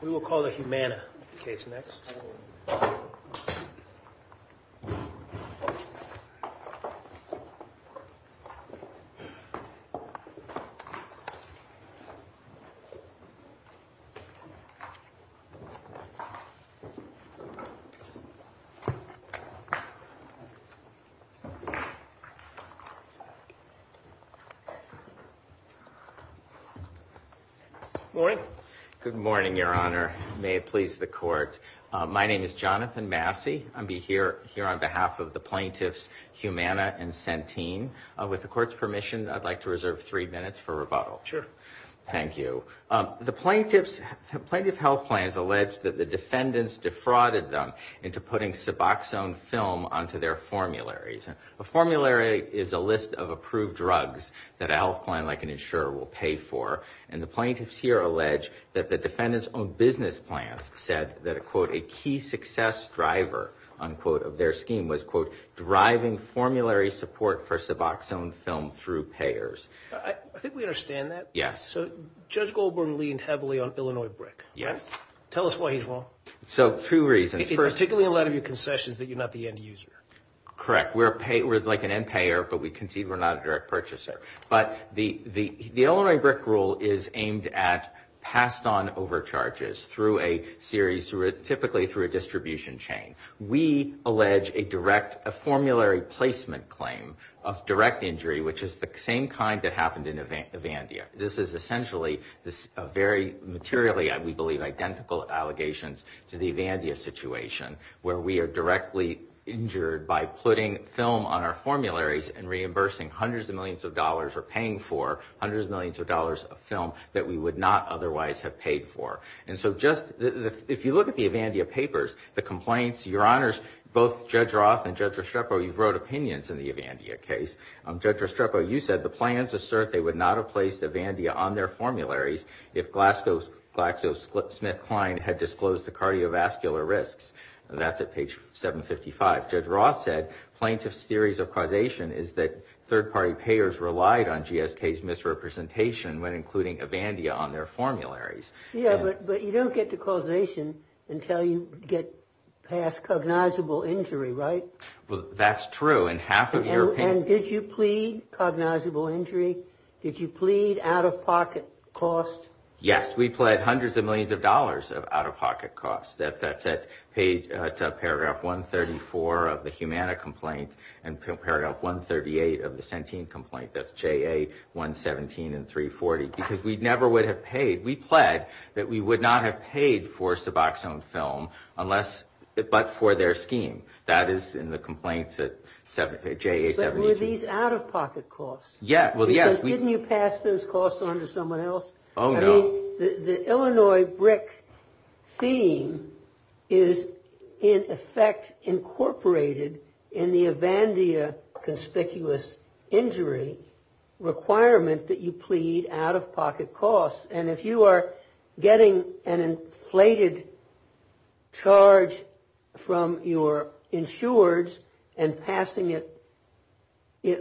We will call the Humana case next. Good morning, Your Honor. May it please the Court. My name is Jonathan Massey. I'll be here on behalf of the plaintiffs Humana and Centene. With the Court's permission, I'd like to reserve three minutes for rebuttal. Sure. Thank you. The plaintiff's health plan has alleged that the defendants defrauded them into putting suboxone film onto their formularies. A formulary is a list of approved drugs that a health plan like an insurer will pay for. The plaintiffs here allege that the defendants' own business plans said that a, quote, a key success driver, unquote, of their scheme was, quote, driving formulary support for suboxone film through payers. I think we understand that. Yes. So, Judge Goldberg leaned heavily on Illinois BRIC. Yes. Tell us why he's wrong. So, two reasons. Particularly a lot of your concession is that you're not the end user. Correct. We're like an end payer, but we concede we're not a direct purchaser. But the Illinois BRIC rule is aimed at passed on overcharges through a series, typically through a distribution chain. We allege a direct, a formulary placement claim of direct injury, which is the same kind that happened in Evandia. This is essentially, very materially, we believe, identical allegations to the Evandia situation where we are directly injured by putting film on our formularies and reimbursing hundreds of millions of dollars or paying for hundreds of millions of dollars of film that we would not otherwise have paid for. And so, just, if you look at the Evandia papers, the complaints, your honors, both Judge Roth and Judge Restrepo, you've wrote opinions in the Evandia case. Judge Restrepo, you said the plans assert they would not have placed Evandia on their formularies if GlaxoSmithKline had disclosed the cardiovascular risks. That's at page 755. As Judge Roth said, plaintiff's theories of causation is that third-party payers relied on GSK's misrepresentation when including Evandia on their formularies. Yeah, but you don't get to causation until you get past cognizable injury, right? That's true. In half of European... And did you plead cognizable injury? Did you plead out-of-pocket costs? Yes. We pled hundreds of millions of dollars of out-of-pocket costs. That's at paragraph 134 of the Humana complaint and paragraph 138 of the Sentine complaint. That's JA 117 and 340. Because we never would have paid. We pled that we would not have paid for Suboxone film unless... but for their scheme. That is in the complaints at JA 173. But were these out-of-pocket costs? Yeah. Well, yes. Because didn't you pass those costs on to someone else? Oh, no. The Illinois BRIC theme is, in effect, incorporated in the Evandia conspicuous injury requirement that you plead out-of-pocket costs. And if you are getting an inflated charge from your insureds and passing it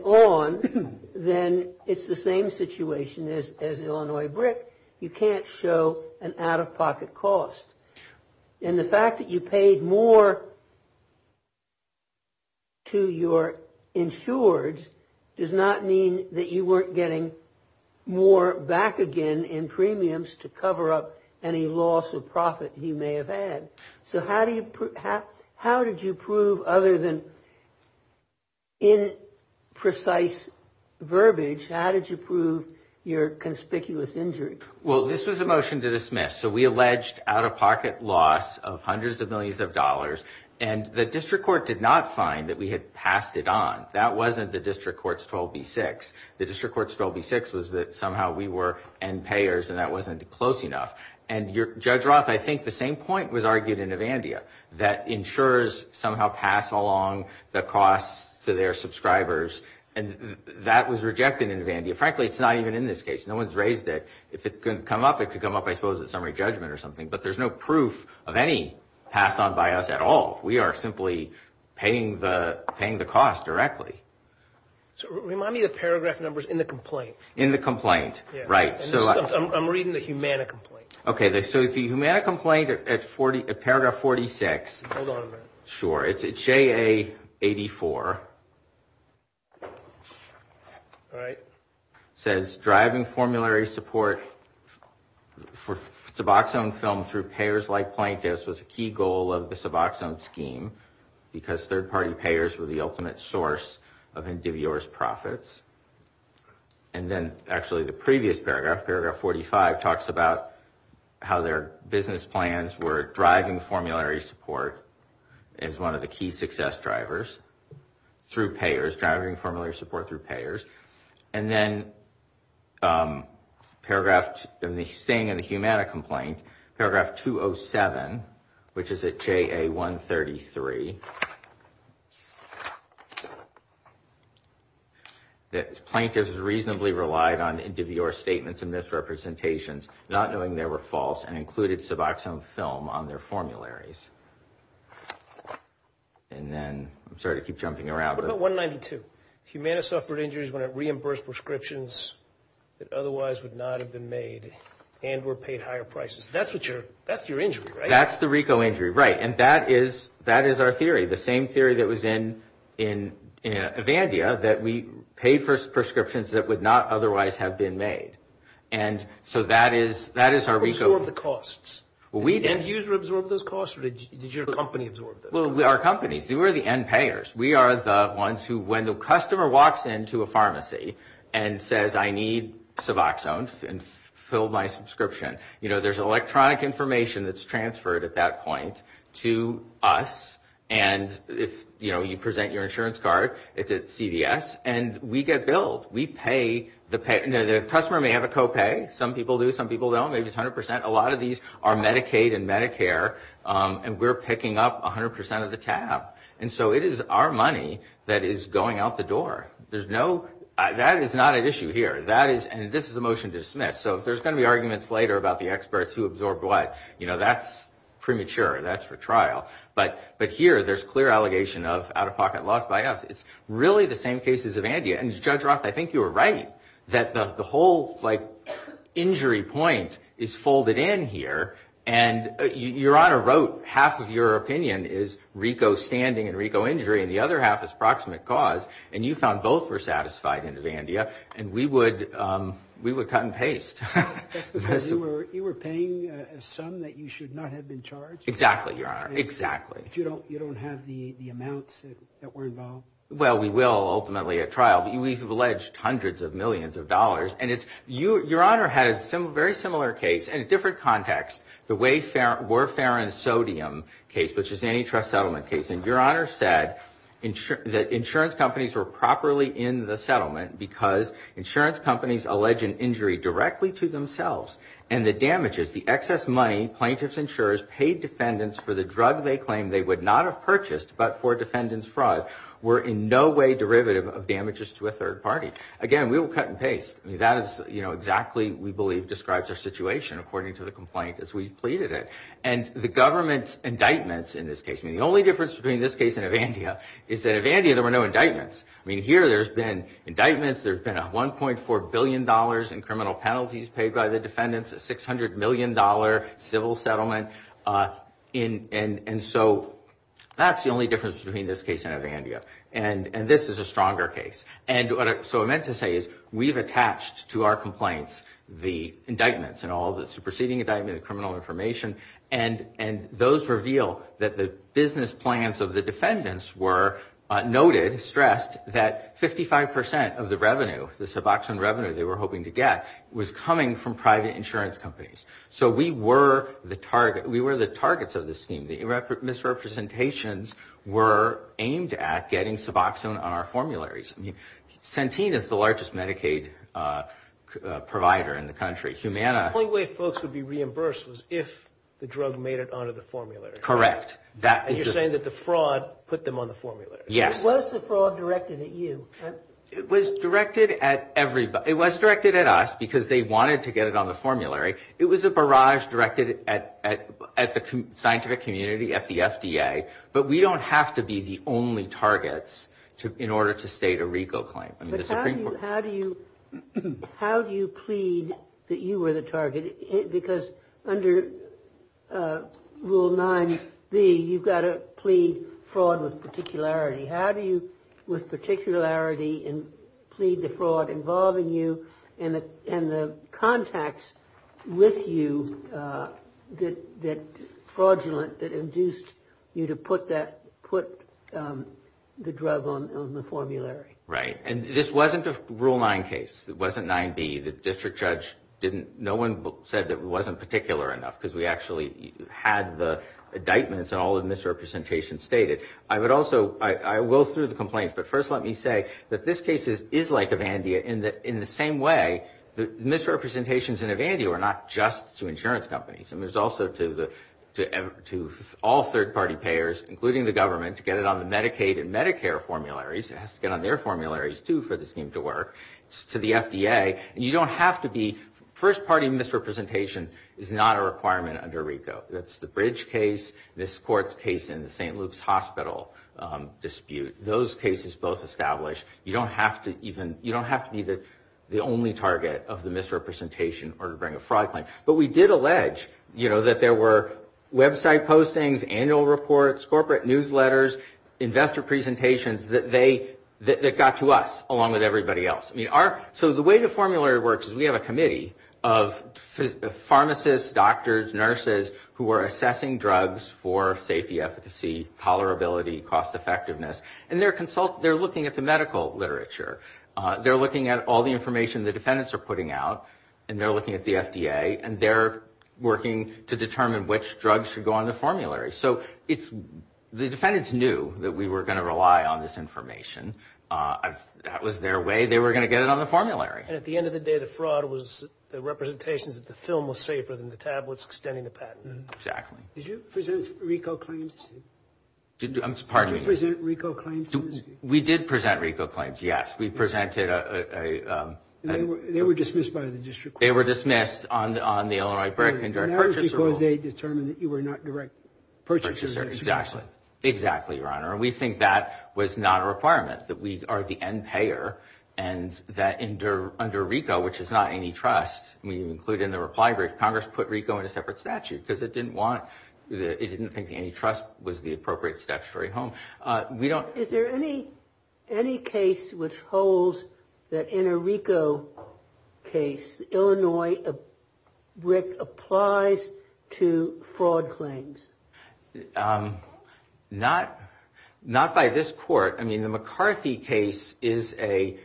on, then it's the same situation as Illinois BRIC. You can't show an out-of-pocket cost. And the fact that you paid more to your insureds does not mean that you weren't getting more back again in premiums to cover up any loss of profit you may have had. So how did you prove, other than imprecise verbiage, how did you prove your conspicuous injury? Well, this was a motion to dismiss. So we alleged out-of-pocket loss of hundreds of millions of dollars. And the district court did not find that we had passed it on. That wasn't the district court's 12B-6. The district court's 12B-6 was that somehow we were end payers and that wasn't close enough. And Judge Roth, I think the same point was argued in Evandia, that insurers somehow pass along the costs to their subscribers. And that was rejected in Evandia. Frankly, it's not even in this case. No one's raised it. If it could come up, it could come up, I suppose, at summary judgment or something. But there's no proof of any passed on by us at all. We are simply paying the cost directly. So remind me the paragraph numbers in the complaint. In the complaint, right. Yeah. I'm reading the Humana complaint. Okay. So the Humana complaint at paragraph 46. Hold on a minute. Sure. It's JA-84. All right. It says driving formulary support for suboxone film through payers like plaintiffs was a key goal of the suboxone scheme because third party payers were the ultimate source of endivious profits. And then actually the previous paragraph, paragraph 45, talks about how their business plans were driving formulary support as one of the key success drivers through payers, driving formulary support through payers. And then paragraph, in the Humana complaint, paragraph 207, which is at JA-133, that plaintiffs reasonably relied on endivious statements and misrepresentations, not knowing they were false and included suboxone film on their formularies. And then, I'm sorry to keep jumping around. What about 192? Humana suffered injuries when it reimbursed prescriptions that otherwise would not have been made and were paid higher prices. That's your injury, right? That's the RICO injury. Right. And that is our theory. The same theory that was in Evandia, that we pay for prescriptions that would not otherwise have been made. And so that is our RICO. Who absorbed the costs? Well, we did. Did the end user absorb those costs or did your company absorb those? Well, our company. We were the end payers. We are the ones who, when the customer walks into a pharmacy and says, I need suboxone and fill my subscription, you know, there's electronic information that's transferred at that point to us. And if, you know, you present your insurance card, it's at CDS, and we get billed. We pay. The customer may have a co-pay. Some people do. Some people don't. Maybe it's 100%. And we're picking up 100% of the tab. And so it is our money that is going out the door. There's no, that is not an issue here. That is, and this is a motion to dismiss. So if there's going to be arguments later about the experts who absorbed what, you know, that's premature. That's for trial. But here, there's clear allegation of out-of-pocket loss by us. It's really the same case as Evandia. And Judge Roth, I think you were right that the whole, like, injury point is folded in here. And Your Honor wrote half of your opinion is RICO standing and RICO injury, and the other half is proximate cause. And you found both were satisfied in Evandia. And we would cut and paste. That's because you were paying a sum that you should not have been charged? Exactly, Your Honor. Exactly. But you don't have the amounts that were involved? Well, we will ultimately at trial. We've alleged hundreds of millions of dollars. And Your Honor had a very similar case in a different context. The Wayfarer Sodium case, which is an antitrust settlement case. And Your Honor said that insurance companies were properly in the settlement because insurance companies allege an injury directly to themselves. And the damages, the excess money plaintiffs insurers paid defendants for the drug they claimed they would not have purchased but for defendants' fraud, were in no way derivative of damages to a third party. Again, we will cut and paste. That is exactly, we believe, describes our situation according to the complaint as we pleaded it. And the government's indictments in this case, the only difference between this case and Evandia is that in Evandia there were no indictments. Here there's been indictments, there's been a $1.4 billion in criminal penalties paid by the defendants, a $600 million civil settlement. And so that's the only difference between this case and Evandia. And this is a stronger case. And so what I meant to say is we've attached to our complaints the indictments and all the superseding indictment, the criminal information, and those reveal that the business plans of the defendants were noted, stressed, that 55 percent of the revenue, the suboxone revenue they were hoping to get, was coming from private insurance companies. So we were the target, we were the targets of this scheme. The misrepresentations were aimed at getting suboxone on our formularies. I mean, Centene is the largest Medicaid provider in the country. Humana... The only way folks would be reimbursed was if the drug made it onto the formulary. Correct. And you're saying that the fraud put them on the formulary. Yes. Was the fraud directed at you? It was directed at everybody. It was directed at us because they wanted to get it on the formulary. It was a barrage directed at the scientific community, at the FDA, but we don't have to be the only targets in order to state a regal claim. But how do you plead that you were the target? Because under Rule 9b, you've got to plead fraud with particularity. And plead the fraud involving you and the contacts with you that fraudulent, that induced you to put that, put the drug on the formulary. Right. And this wasn't a Rule 9 case. It wasn't 9b. The district judge didn't, no one said that it wasn't particular enough because we actually had the indictments and all the misrepresentations stated. I would also, I will through the complaints, but first let me say that this case is like Evandia in that in the same way, the misrepresentations in Evandia were not just to insurance companies. And there's also to all third party payers, including the government, to get it on the Medicaid and Medicare formularies. It has to get on their formularies too for the scheme to work. It's to the FDA. And you don't have to be, first party misrepresentation is not a requirement under RICO. That's the Bridge case, this court's case in the St. Luke's Hospital dispute. Those cases both established. You don't have to even, you don't have to be the only target of the misrepresentation or to bring a fraud claim. But we did allege, you know, that there were website postings, annual reports, corporate newsletters, investor presentations that they, that got to us along with everybody else. So the way the formulary works is we have a committee of pharmacists, doctors, nurses who are assessing drugs for safety, efficacy, tolerability, cost effectiveness. And they're looking at the medical literature. They're looking at all the information the defendants are putting out. And they're looking at the FDA. And they're working to determine which drugs should go on the formulary. So it's, the defendants knew that we were going to rely on this information. That was their way. They were going to get it on the formulary. And at the end of the day, the fraud was the representations that the film was safer than the tablets extending the patent. Exactly. Did you present RICO claims? I'm sorry. Did you present RICO claims? We did present RICO claims, yes. We presented a... They were dismissed by the district court. They were dismissed on the Illinois Direct Purchaser Rule. And that was because they determined that you were not direct purchaser. Exactly. Exactly, Your Honor. We think that was not a requirement. That we are the end payer. And that under RICO, which is not antitrust, we include in the reply brief, Congress put RICO in a separate statute. Because it didn't want, it didn't think antitrust was the appropriate statutory home. We don't... Is there any case which holds that in a RICO case, Illinois RIC applies to fraud claims? Not by this court. I mean, the McCarthy case is a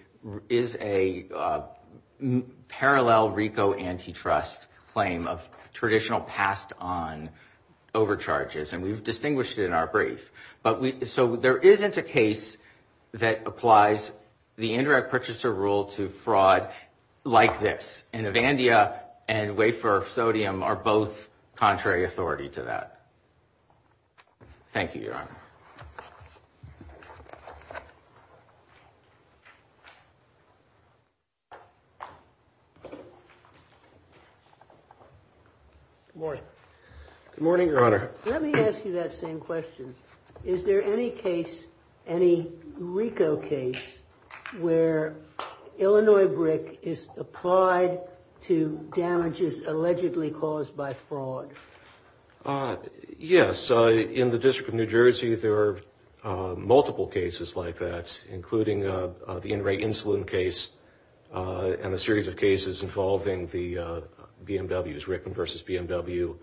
parallel RICO antitrust claim of traditional passed on overcharges. And we've distinguished it in our brief. So there isn't a case that applies the indirect purchaser rule to fraud like this. And Avandia and Wafer Sodium are both contrary authority to that. Thank you, Your Honor. Good morning. Good morning, Your Honor. Let me ask you that same question. Is there any case, any RICO case, where Illinois RIC is applied to damages allegedly caused by fraud? Yes. In the District of New Jersey, there are multiple cases like that, including the in-rate insulin case and a series of cases involving the BMWs, RIC and versus BMW,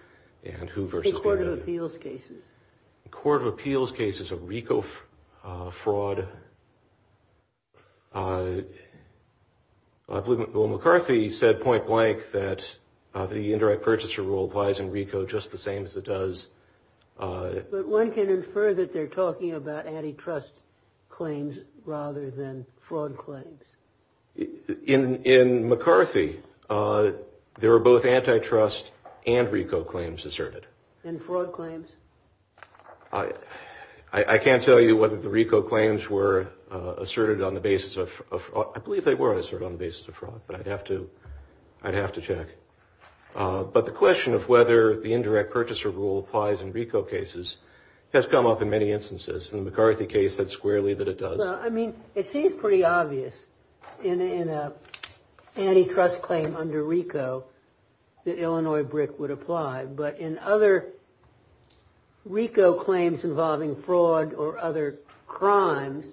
and who versus BMW. The Court of Appeals cases. Court of Appeals cases of RICO fraud. McCarthy said point blank that the indirect purchaser rule applies in RICO just the same as it does. But one can infer that they're talking about antitrust claims rather than fraud claims. In McCarthy, there are both antitrust and RICO claims asserted. And fraud claims? I can't tell you whether the RICO claims were asserted on the basis of, I believe they were asserted on the basis of fraud, but I'd have to, I'd have to check. But the question of whether the indirect purchaser rule applies in RICO cases has come up in many instances. In the McCarthy case, that's squarely that it does. I mean, it seems pretty obvious in an antitrust claim under RICO that Illinois BRIC would apply. But in other RICO claims involving fraud or other crimes,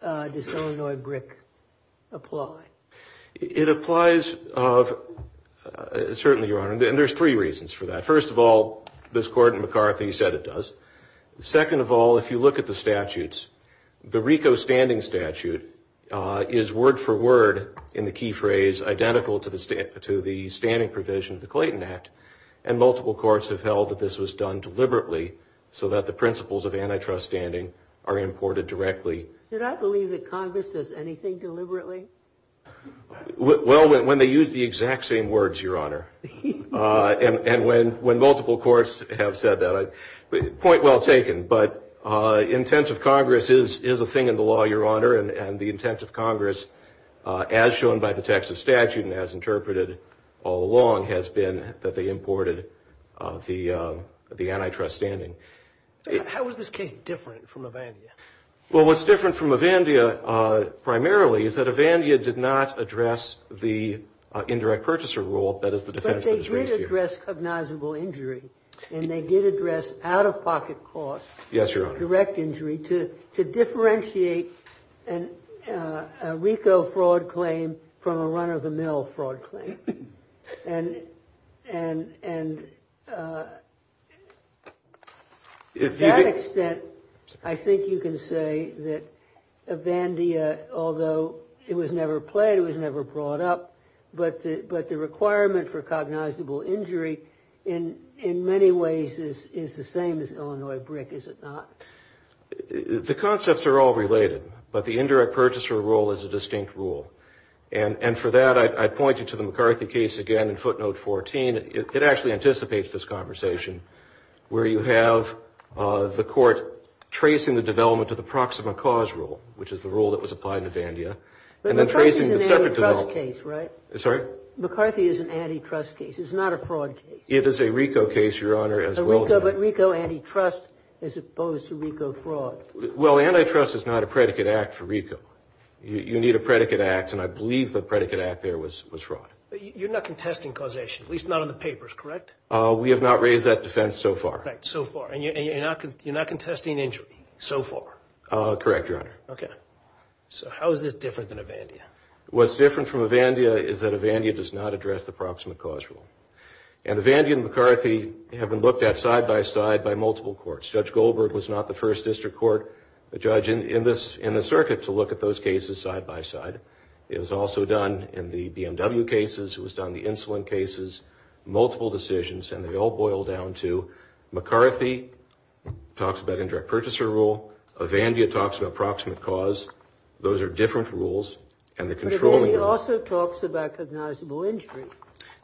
does Illinois BRIC apply? It applies, certainly, Your Honor, and there's three reasons for that. First of all, this Court in McCarthy said it does. Second of all, if you look at the statutes, the RICO standing statute is word for word in the key phrase identical to the standing provision of the Clayton Act. And multiple courts have held that this was done deliberately so that the principles of antitrust standing are imported directly. Did I believe that Congress does anything deliberately? Well, when they use the exact same words, Your Honor. And when multiple courts have said that, point well taken. But intensive Congress is a thing in the law, Your Honor, and the intensive Congress, as shown by the text of statute and as interpreted all along, has been that they imported the antitrust standing. How is this case different from Avandia? Well, what's different from Avandia, primarily, is that Avandia did not address the indirect purchaser rule, that is, the defense that is raised here. But they did address cognizable injury, and they did address out-of-pocket costs, direct injury, to differentiate a RICO fraud claim from a run-of-the-mill fraud claim. And to that extent, I think you can say that Avandia, although it was never played, it was never brought up, but the requirement for cognizable injury in many ways is the same as Illinois BRIC, is it not? The concepts are all related, but the indirect purchaser rule is a distinct rule. And for that, I point you to the McCarthy case again in footnote 14. It actually anticipates this conversation, where you have the court tracing the development of the proxima cause rule, which is the rule that was applied in Avandia, and then tracing the separate development. But McCarthy is an antitrust case, right? I'm sorry? McCarthy is an antitrust case. It's not a fraud case. It is a RICO case, Your Honor, as well as an antitrust. But RICO antitrust as opposed to RICO fraud. Well, antitrust is not a predicate act for RICO. You need a predicate act, and I believe the predicate act there was fraud. But you're not contesting causation, at least not on the papers, correct? We have not raised that defense so far. Right, so far. And you're not contesting injury so far? Correct, Your Honor. Okay. So how is this different than Avandia? What's different from Avandia is that Avandia does not address the proxima cause rule. And Avandia and McCarthy have been looked at side by side by multiple courts. Judge Goldberg was not the first district court judge in the circuit to look at those cases side by side. It was also done in the BMW cases. It was done in the insulin cases. Multiple decisions, and they all boil down to McCarthy talks about indirect purchaser rule. Avandia talks about proximate cause. Those are different rules. And the control rule... But Avandia also talks about cognizable injury.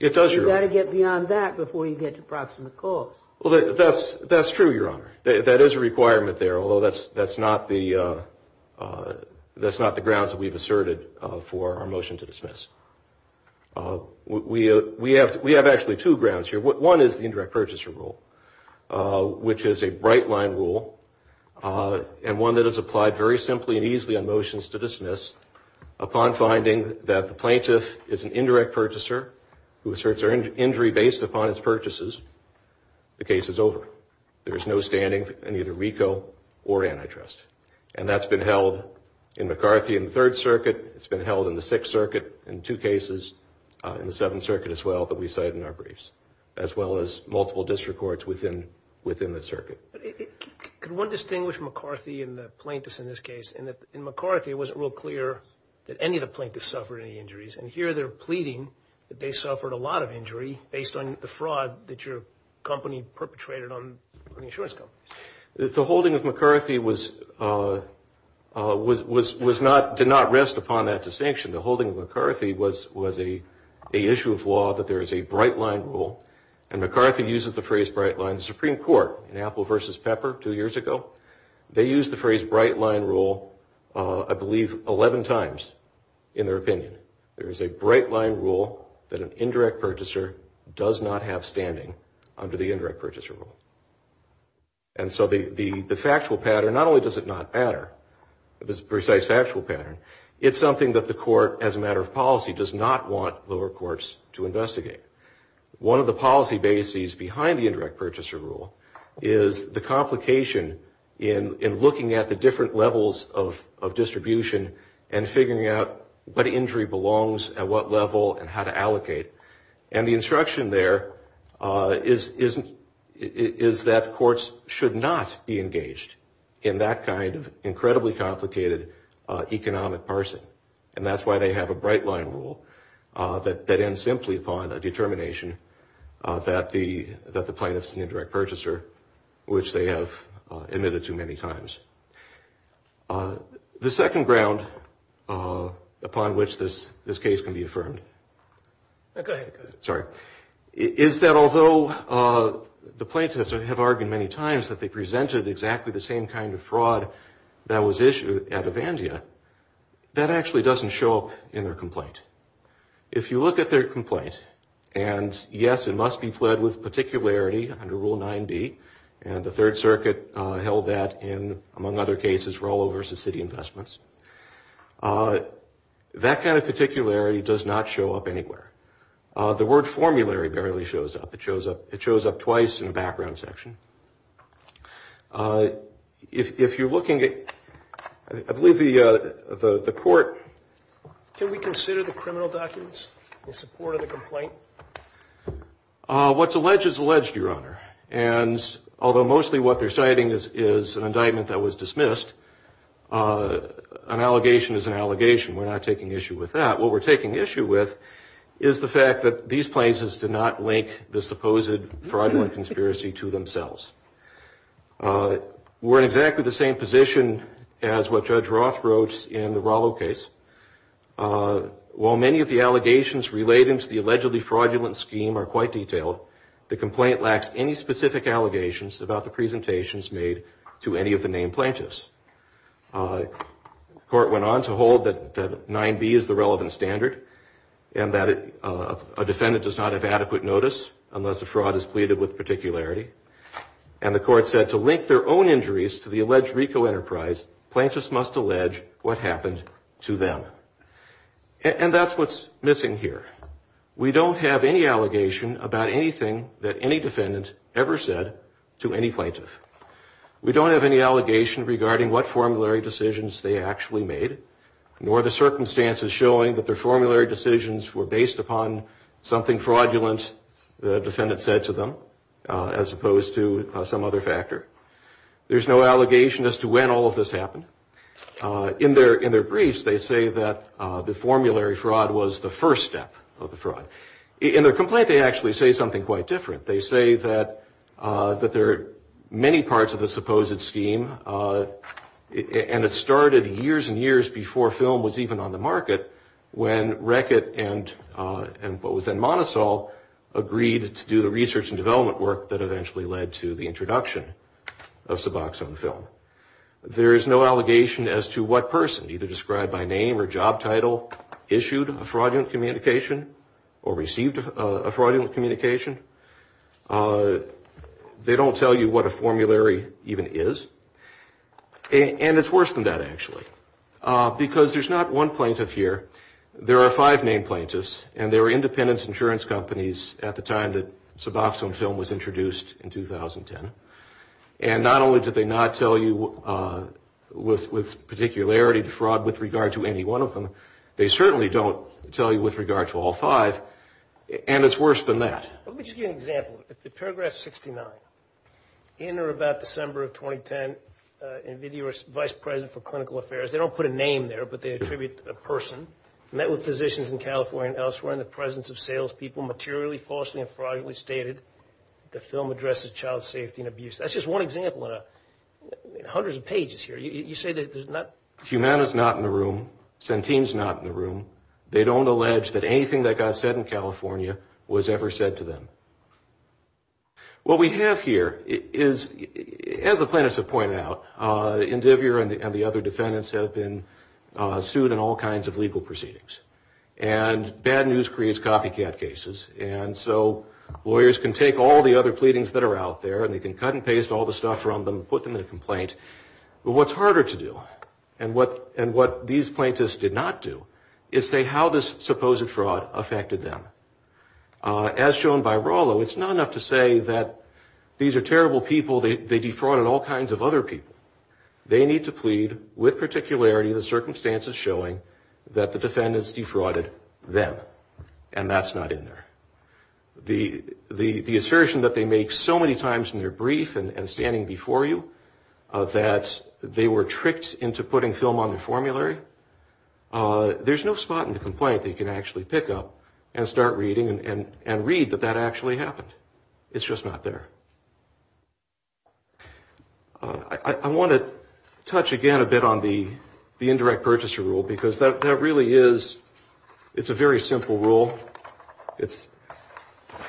It does, Your Honor. You've got to get beyond that before you get to proximate cause. Well, that's true, Your Honor. That is a requirement there, although that's not the grounds that we've asserted for our motion to dismiss. We have actually two grounds here. One is the indirect purchaser rule, which is a bright line rule and one that is applied very simply and easily on motions to dismiss upon finding that the plaintiff is an indirect purchaser who asserts their injury based upon its purchases. The case is over. There is no standing in either RICO or antitrust. And that's been held in McCarthy in the Third Circuit. It's been held in the Sixth Circuit in two cases, in the Seventh Circuit as well that we cited in our briefs, as well as multiple district courts within the circuit. Could one distinguish McCarthy and the plaintiffs in this case in that in McCarthy, it wasn't real clear that any of the plaintiffs suffered any injuries. And here they're pleading that they suffered a lot of injury based on the fraud that your company perpetrated on insurance companies. The holding of McCarthy did not rest upon that distinction. The holding of McCarthy was a issue of law that there is a bright line rule, and McCarthy uses the phrase bright line. The Supreme Court in Apple v. Pepper two years ago, they used the phrase bright line rule, I believe, 11 times in their opinion. There is a bright line rule that an indirect purchaser does not have standing under the indirect purchaser rule. And so the factual pattern, not only does it not matter, this precise factual pattern, it's something that the court as a matter of policy does not want lower courts to investigate. One of the policy bases behind the indirect purchaser rule is the complication in looking at the different levels of distribution and figuring out what injury belongs at what level and how to allocate. And the instruction there is that courts should not be engaged in that kind of incredibly complicated economic parsing. And that's why they have a bright line rule that ends simply upon a determination that the plaintiff's an indirect purchaser, which they have admitted too many times. The second ground upon which this case can be affirmed is that although the plaintiffs have argued many times that they presented exactly the same kind of fraud that was issued at Avandia, that actually doesn't show up in their complaint. If you look at their complaint, and yes, it must be pled with particularity under Rule 9B, and the Third Circuit held that in, among other cases, Rollo v. City Investments. That kind of particularity does not show up anywhere. The word formulary barely shows up. It shows up twice in the background section. If you're looking at, I believe the court... What's alleged is alleged, Your Honor. And although mostly what they're citing is an indictment that was dismissed, an allegation is an allegation. We're not taking issue with that. What we're taking issue with is the fact that these plaintiffs did not link the supposed fraudulent conspiracy to themselves. We're in exactly the same position as what Judge Roth wrote in the Rollo case. While many of the allegations relating to the allegedly fraudulent scheme are quite detailed, the complaint lacks any specific allegations about the presentations made to any of the named plaintiffs. The court went on to hold that 9B is the relevant standard, and that a defendant does not have adequate notice unless a fraud is pleaded with particularity. And the court said to link their own injuries to the alleged RICO enterprise, plaintiffs must allege what happened to them. And that's what's missing here. We don't have any allegation about anything that any defendant ever said to any plaintiff. We don't have any allegation regarding what formulary decisions they actually made, nor the circumstances showing that their formulary decisions were based upon something fraudulent the defendant said to them, as opposed to some other factor. There's no allegation as to when all of this happened. In their briefs, they say that the formulary fraud was the first step of the fraud. In their complaint, they actually say something quite different. They say that there are many parts of the supposed scheme, and it started years and years before film was even on the market, when Reckitt and what was then Monosol agreed to do the research and development work that eventually led to the introduction of Suboxone film. There is no allegation as to what person, either described by name or job title, issued a fraudulent communication. They don't tell you what a formulary even is. And it's worse than that, actually, because there's not one plaintiff here. There are five named plaintiffs, and they were independent insurance companies at the time that Suboxone film was introduced in 2010. And not only did they not tell you with particularity the fraud with regard to any one of them, they certainly don't tell you with regard to all five, and it's worse than that. Let me just give you an example. Paragraph 69, in or about December of 2010, NVIDIA was vice president for clinical affairs. They don't put a name there, but they attribute a person. Met with physicians in California and elsewhere in the presence of salespeople. They don't put a name there, but they attribute a person. Humana's not in the room. Centene's not in the room. They don't allege that anything that got said in California was ever said to them. What we have here is, as the plaintiffs have pointed out, Indivier and the other defendants have been sued in all kinds of legal proceedings. And bad news creates copycat cases, and so lawyers can take all the other pleadings that are out there, and they can cut and paste all the stuff from them and put them in a complaint. But what's harder to do, and what these plaintiffs did not do, is say how this supposed fraud affected them. As shown by Rallo, it's not enough to say that these are terrible people, they defrauded all kinds of other people. They need to plead with particularity the circumstances showing that the defendants defrauded them. And that's not in there. The assertion that they make so many times in their brief and standing before you that they were tricked into putting film on the formulary, there's no spot in the complaint that you can actually pick up and start reading and read that that actually happened. It's just not there. I want to touch again a bit on the indirect purchaser rule, because that really is, it's a very simple rule. It's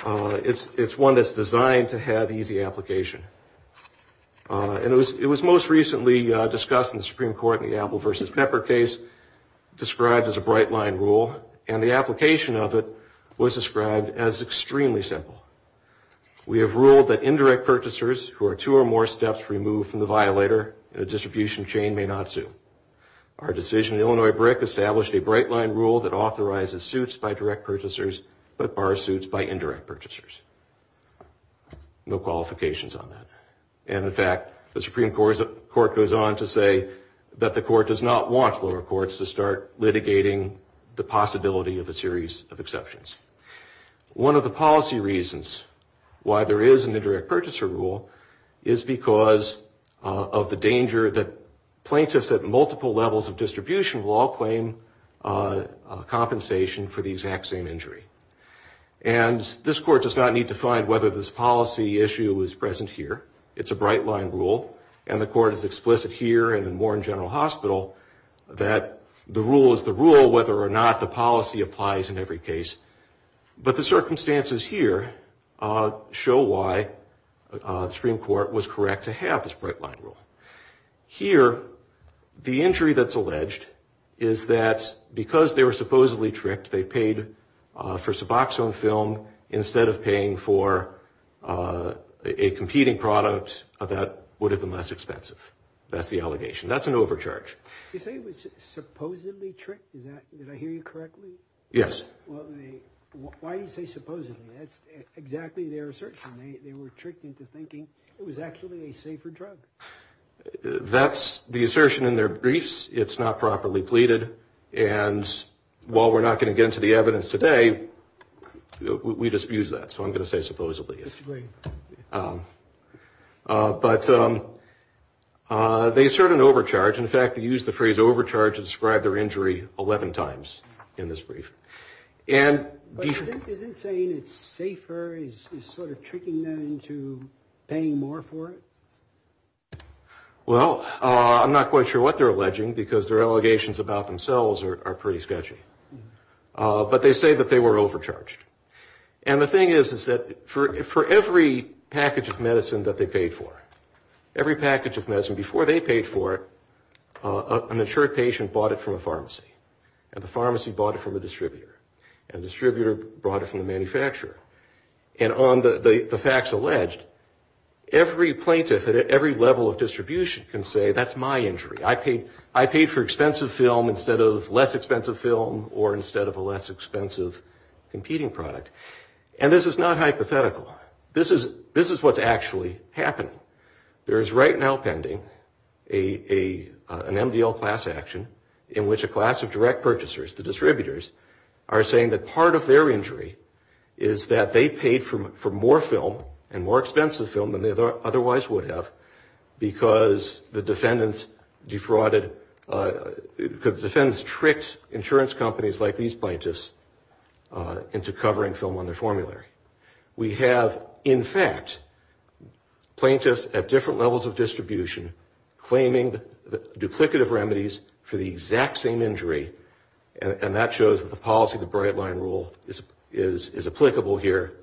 one that's designed to have easy application. And it was most recently discussed in the Supreme Court in the Apple v. Pepper case, described as a bright line rule, and the application of it was described as extremely simple. We have ruled that indirect purchasers who are two or more steps removed from the violator in a distribution chain may not sue. Our decision in the Illinois BRIC established a bright line rule that authorizes suits by direct purchasers, but bar suits by indirect purchasers. No qualifications on that. And in fact, the Supreme Court goes on to say that the court does not want lower courts to start litigating the possibility of a series of exceptions. One of the policy reasons why there is an indirect purchaser rule is because of the danger that plaintiffs at multiple levels of distribution will all claim compensation for the exact same injury. And this court does not need to find whether this policy issue is present here. It's a bright line rule, and the court is explicit here and more in General Hospital that the rule is the rule, whether or not the policy applies in every case. But the circumstances here show why the Supreme Court was correct to have this bright line rule. Here, the injury that's alleged is that because they were supposedly tricked, they paid for suboxone film instead of paying for a competing product that would have been less expensive. That's the allegation. That's an overcharge. You say it was supposedly tricked? Did I hear you correctly? Yes. Why do you say supposedly? That's exactly their assertion. They were tricked into thinking it was actually a safer drug. That's the assertion in their briefs. It's not properly pleaded. And while we're not going to get into the evidence today, we just use that. So I'm going to say supposedly. But they assert an overcharge. In fact, they use the phrase overcharge to describe their injury 11 times in this brief. But isn't saying it's safer sort of tricking them into paying more for it? Well, I'm not quite sure what they're alleging, because their allegations about themselves are pretty sketchy. But they say that they were overcharged. And the thing is that for every package of medicine that they paid for, every package of medicine before they paid for it, an insured patient bought it from a pharmacy. And the pharmacy bought it from a distributor. And the distributor brought it from the manufacturer. And on the facts alleged, every plaintiff at every level of distribution can say, that's my injury. I paid for expensive film instead of less expensive film or instead of a less expensive competing product. And this is not hypothetical. This is what's actually happening. There is right now pending an MDL class action in which a class of direct purchasers, the distributors, are saying that part of their injury is that they paid for more film and more expensive film than they otherwise would have because the defendants defrauded, because the defendants tricked insurance companies like these plaintiffs into covering film on their formulary. We have, in fact, plaintiffs at different levels of distribution claiming duplicative remedies for the exact same injury. And that shows that the policy of the Bright Line Rule is applicable here.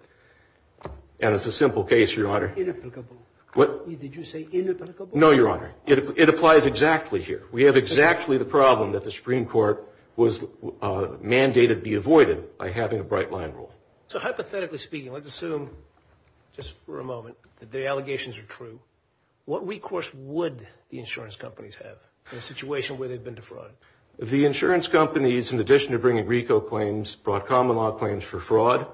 And it's a simple case, Your Honor. Inapplicable. Did you say inapplicable? No, Your Honor. It applies exactly here. We have exactly the problem that the Supreme Court was mandated to be avoided by having a Bright Line Rule. So hypothetically speaking, let's assume, just for a moment, that the allegations are true. What recourse would the insurance companies have in a situation where they've been defrauded? The insurance companies, in addition to bringing RICO claims, brought common law claims for fraud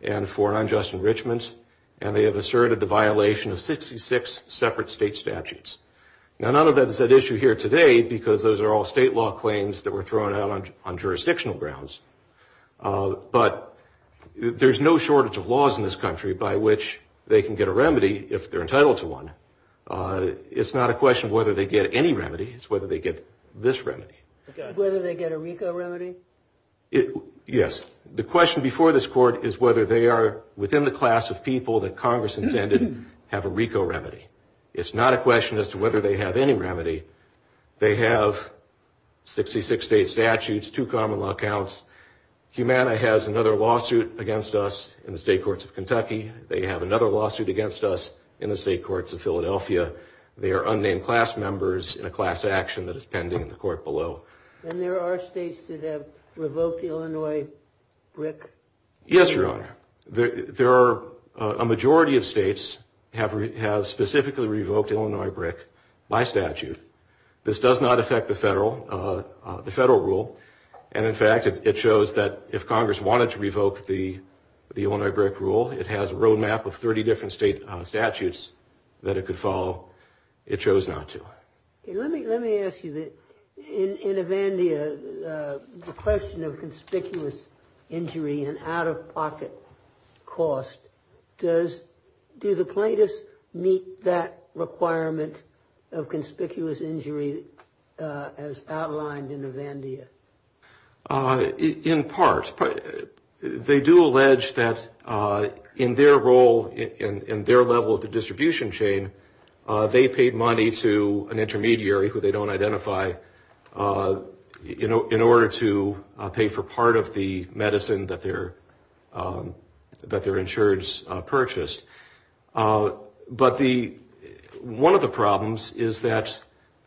and for unjust enrichment. And they have asserted the violation of 66 separate state statutes. Now, none of that is at issue here today because those are all state law claims that were thrown out on jurisdictional grounds. But there's no shortage of laws in this country by which they can get a remedy if they're entitled to one. It's not a question of whether they get any remedy. It's whether they get this remedy. Whether they get a RICO remedy? Yes. The question before this Court is whether they are within the class of people that Congress intended have a RICO remedy. It's not a question as to whether they have any remedy. They have 66 state statutes, two common law counts. Humana has another lawsuit against us in the state courts of Kentucky. They have another lawsuit against us in the state courts of Philadelphia. They are unnamed class members in a class action that is pending in the court below. And there are states that have revoked Illinois BRIC? Yes, Your Honor. A majority of states have specifically revoked Illinois BRIC by statute. This does not affect the federal rule. And in fact, it shows that if Congress wanted to revoke the Illinois BRIC rule, it has a road map of 30 different state statutes that it could follow. It chose not to. Let me ask you. In Avandia, the question of conspicuous injury and out-of-pocket cost, do the plaintiffs meet that requirement of conspicuous injury as outlined in Avandia? In part. They do allege that in their role, in their level of the distribution chain, they paid money to an intermediary who they don't identify in order to pay for part of the medicine that they're insured in. And that's what they've purchased. But one of the problems is that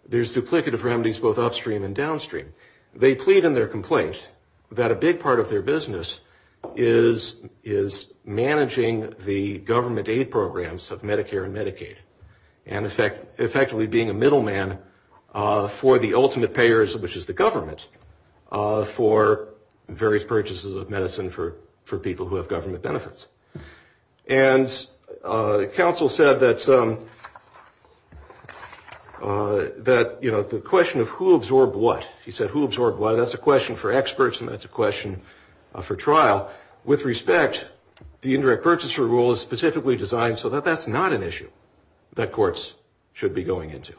there's duplicative remedies both upstream and downstream. They plead in their complaint that a big part of their business is managing the government aid programs of Medicare and Medicaid. And effectively being a middleman for the ultimate payers, which is the government, and counsel said that the question of who absorbed what, he said who absorbed what, that's a question for experts and that's a question for trial. With respect, the indirect purchaser rule is specifically designed so that that's not an issue that courts should be going into.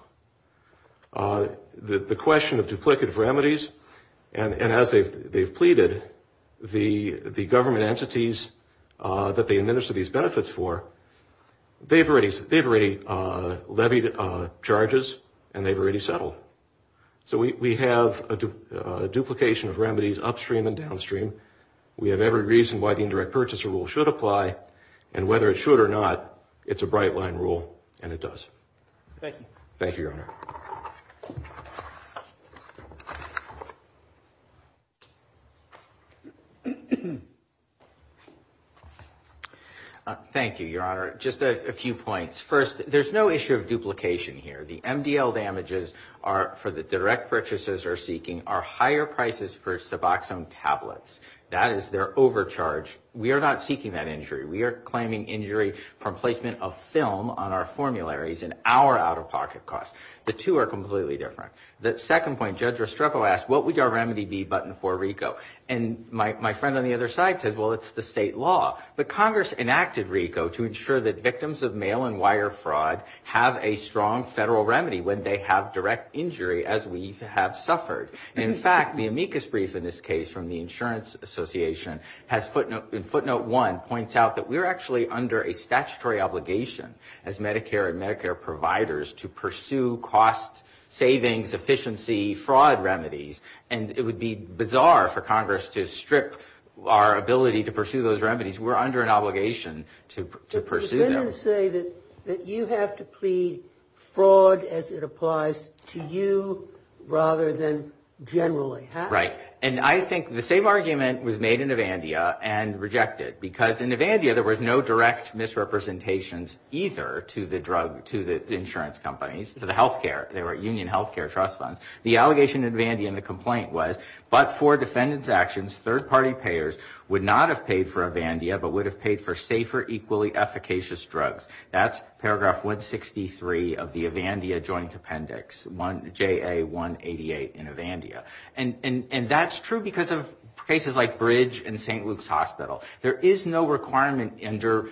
The question of duplicative remedies, and as they've pleaded, the government entities that they administer these benefits for, they've already levied charges and they've already settled. So we have a duplication of remedies upstream and downstream. We have every reason why the indirect purchaser rule should apply, and whether it should or not, it's a bright line rule and it does. Thank you, Your Honor. Thank you, Your Honor. Just a few points. First, there's no issue of duplication here. The MDL damages for the direct purchasers are seeking are higher prices for suboxone tablets. That is their overcharge. We are not seeking that injury. We are claiming injury from placement of film on our formularies and our out-of-pocket costs. The two are completely different. The second point, Judge Restrepo asked, what would our remedy be but in for RICO? And my friend on the other side said, well, it's the state law. But Congress enacted RICO to ensure that victims of mail and wire fraud have a strong federal remedy when they have direct injury, as we have suffered. In fact, the amicus brief in this case from the Insurance Association, in footnote one, points out that we're actually under a statutory obligation as Medicare and Medicare providers to pursue cost savings, efficiency, fraud remedies. And it would be bizarre for Congress to strip our ability to pursue those remedies. We're under an obligation to pursue them. Right. And I think the same argument was made in Avandia and rejected. Because in Avandia, there was no direct misrepresentations either to the drug, to the insurance companies, to the health care. They were union health care trust funds. The allegation in Avandia and the complaint was, but for defendant's actions, third-party payers would not have paid for Avandia but would have paid for safer, equally efficacious drugs. That's paragraph 163 of the Avandia Joint Appendix, JA 188 in Avandia. And that's true because of cases like Bridge and St. Luke's Hospital. There is no requirement under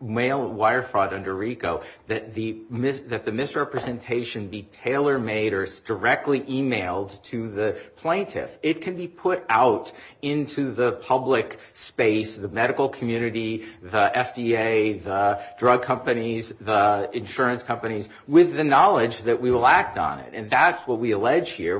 wire fraud under RICO that the misrepresentation be tailor-made or directly emailed to the plaintiff. It can be put out into the public space, the medical community, the FDA, the drug companies, the insurance companies, with the knowledge that we will act on it. And that's what we allege here.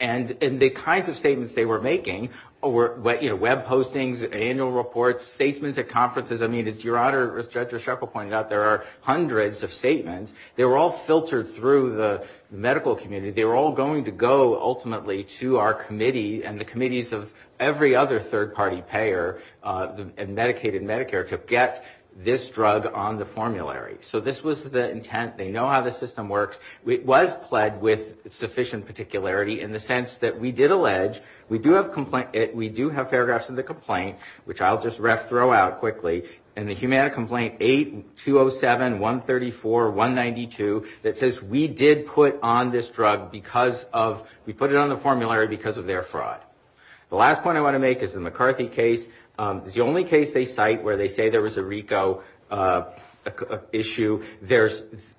And the statements that we're making, web postings, annual reports, statements at conferences, I mean, as your Honor, as Judge Resheffel pointed out, there are hundreds of statements. They were all filtered through the medical community. They were all going to go ultimately to our committee and the committees of every other third-party payer, Medicaid and Medicare, to get this drug on the formulary. So this was the intent. We do have paragraphs in the complaint, which I'll just throw out quickly, in the Humana Complaint 8-207-134-192, that says we did put on this drug because of, we put it on the formulary because of their fraud. The last point I want to make is the McCarthy case. It's the only case they cite where they say there was a RICO issue.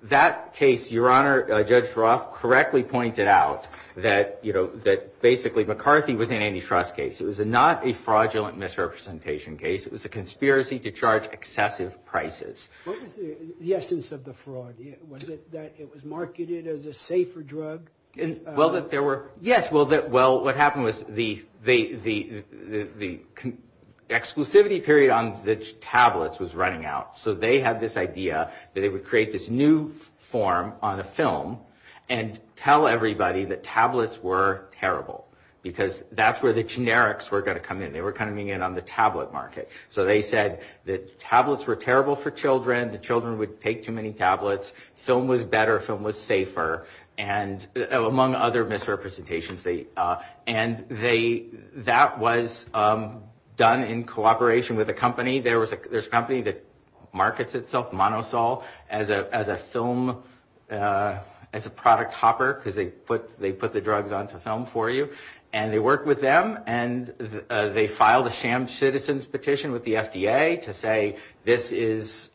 That case, your Honor, Judge Roth correctly pointed out that basically McCarthy was an antitrust case. It was not a fraudulent misrepresentation case. It was a conspiracy to charge excessive prices. What was the essence of the fraud? Was it that it was marketed as a safer drug? Yes. Well, what happened was the exclusivity period on the tablets was running out. So they had this idea that they would create this new form on a film and tell everybody that tablets were terrible. Because that's where the generics were going to come in. They were coming in on the tablet market. So they said that tablets were terrible for children, the children would take too many tablets, film was better, film was safer, among other misrepresentations. And that was done in cooperation with a company. There's a company that markets itself, Monosol, as a film, as a product hopper, because they put the drugs onto film for you. And they worked with them and they filed a sham citizens petition with the FDA to say this is,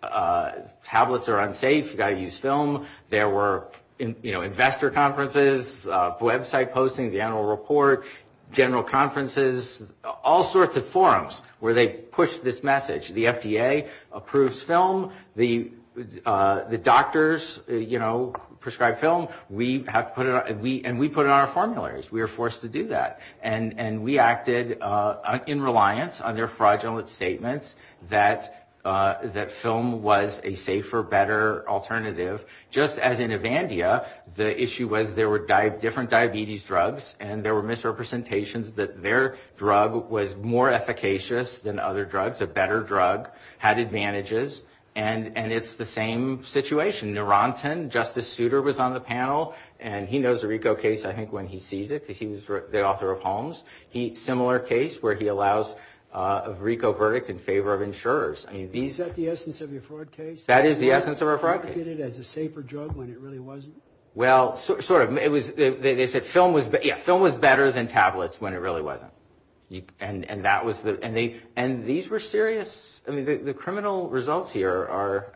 tablets are unsafe, you've got to use film. There were investor conferences, website posting, the annual report, general conferences, all sorts of forums where they pushed this message. The FDA approves film, the doctors prescribe film, and we put it on our formularies. We were forced to do that. And we acted in reliance on their fraudulent statements that film was a safer, better alternative. Just as in Evandia, the issue was there were different diabetes drugs and there were misrepresentations that their drug was more efficacious than other drugs, a better drug, had advantages. And it's the same situation. The author of Holmes, a similar case where he allows a RICO verdict in favor of insurers. Is that the essence of your fraud case? That is the essence of our fraud case. They said film was better than tablets when it really wasn't. And these were serious, the criminal results here are,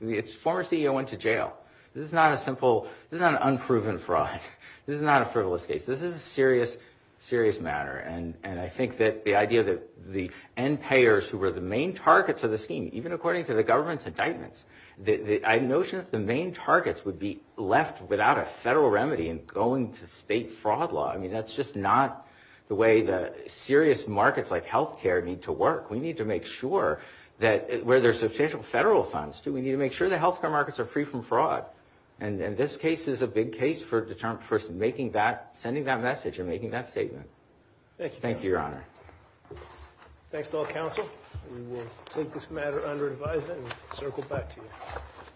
the former CEO went to jail. This is not a simple, this is not an unproven fraud, this is not a frivolous case, this is a serious matter. And I think that the idea that the end payers who were the main targets of the scheme, even according to the government's indictments, the notion that the main targets would be left without a federal remedy and going to state fraud law, I mean that's just not the way the serious markets like health care need to work. We need to make sure that, where there's substantial federal funds too, we need to make sure the health care markets are free from fraud. And this case is a big case for making that, sending that message and making that statement. Thank you, your honor. Thanks to all counsel. We will take this matter under advisement and circle back to you.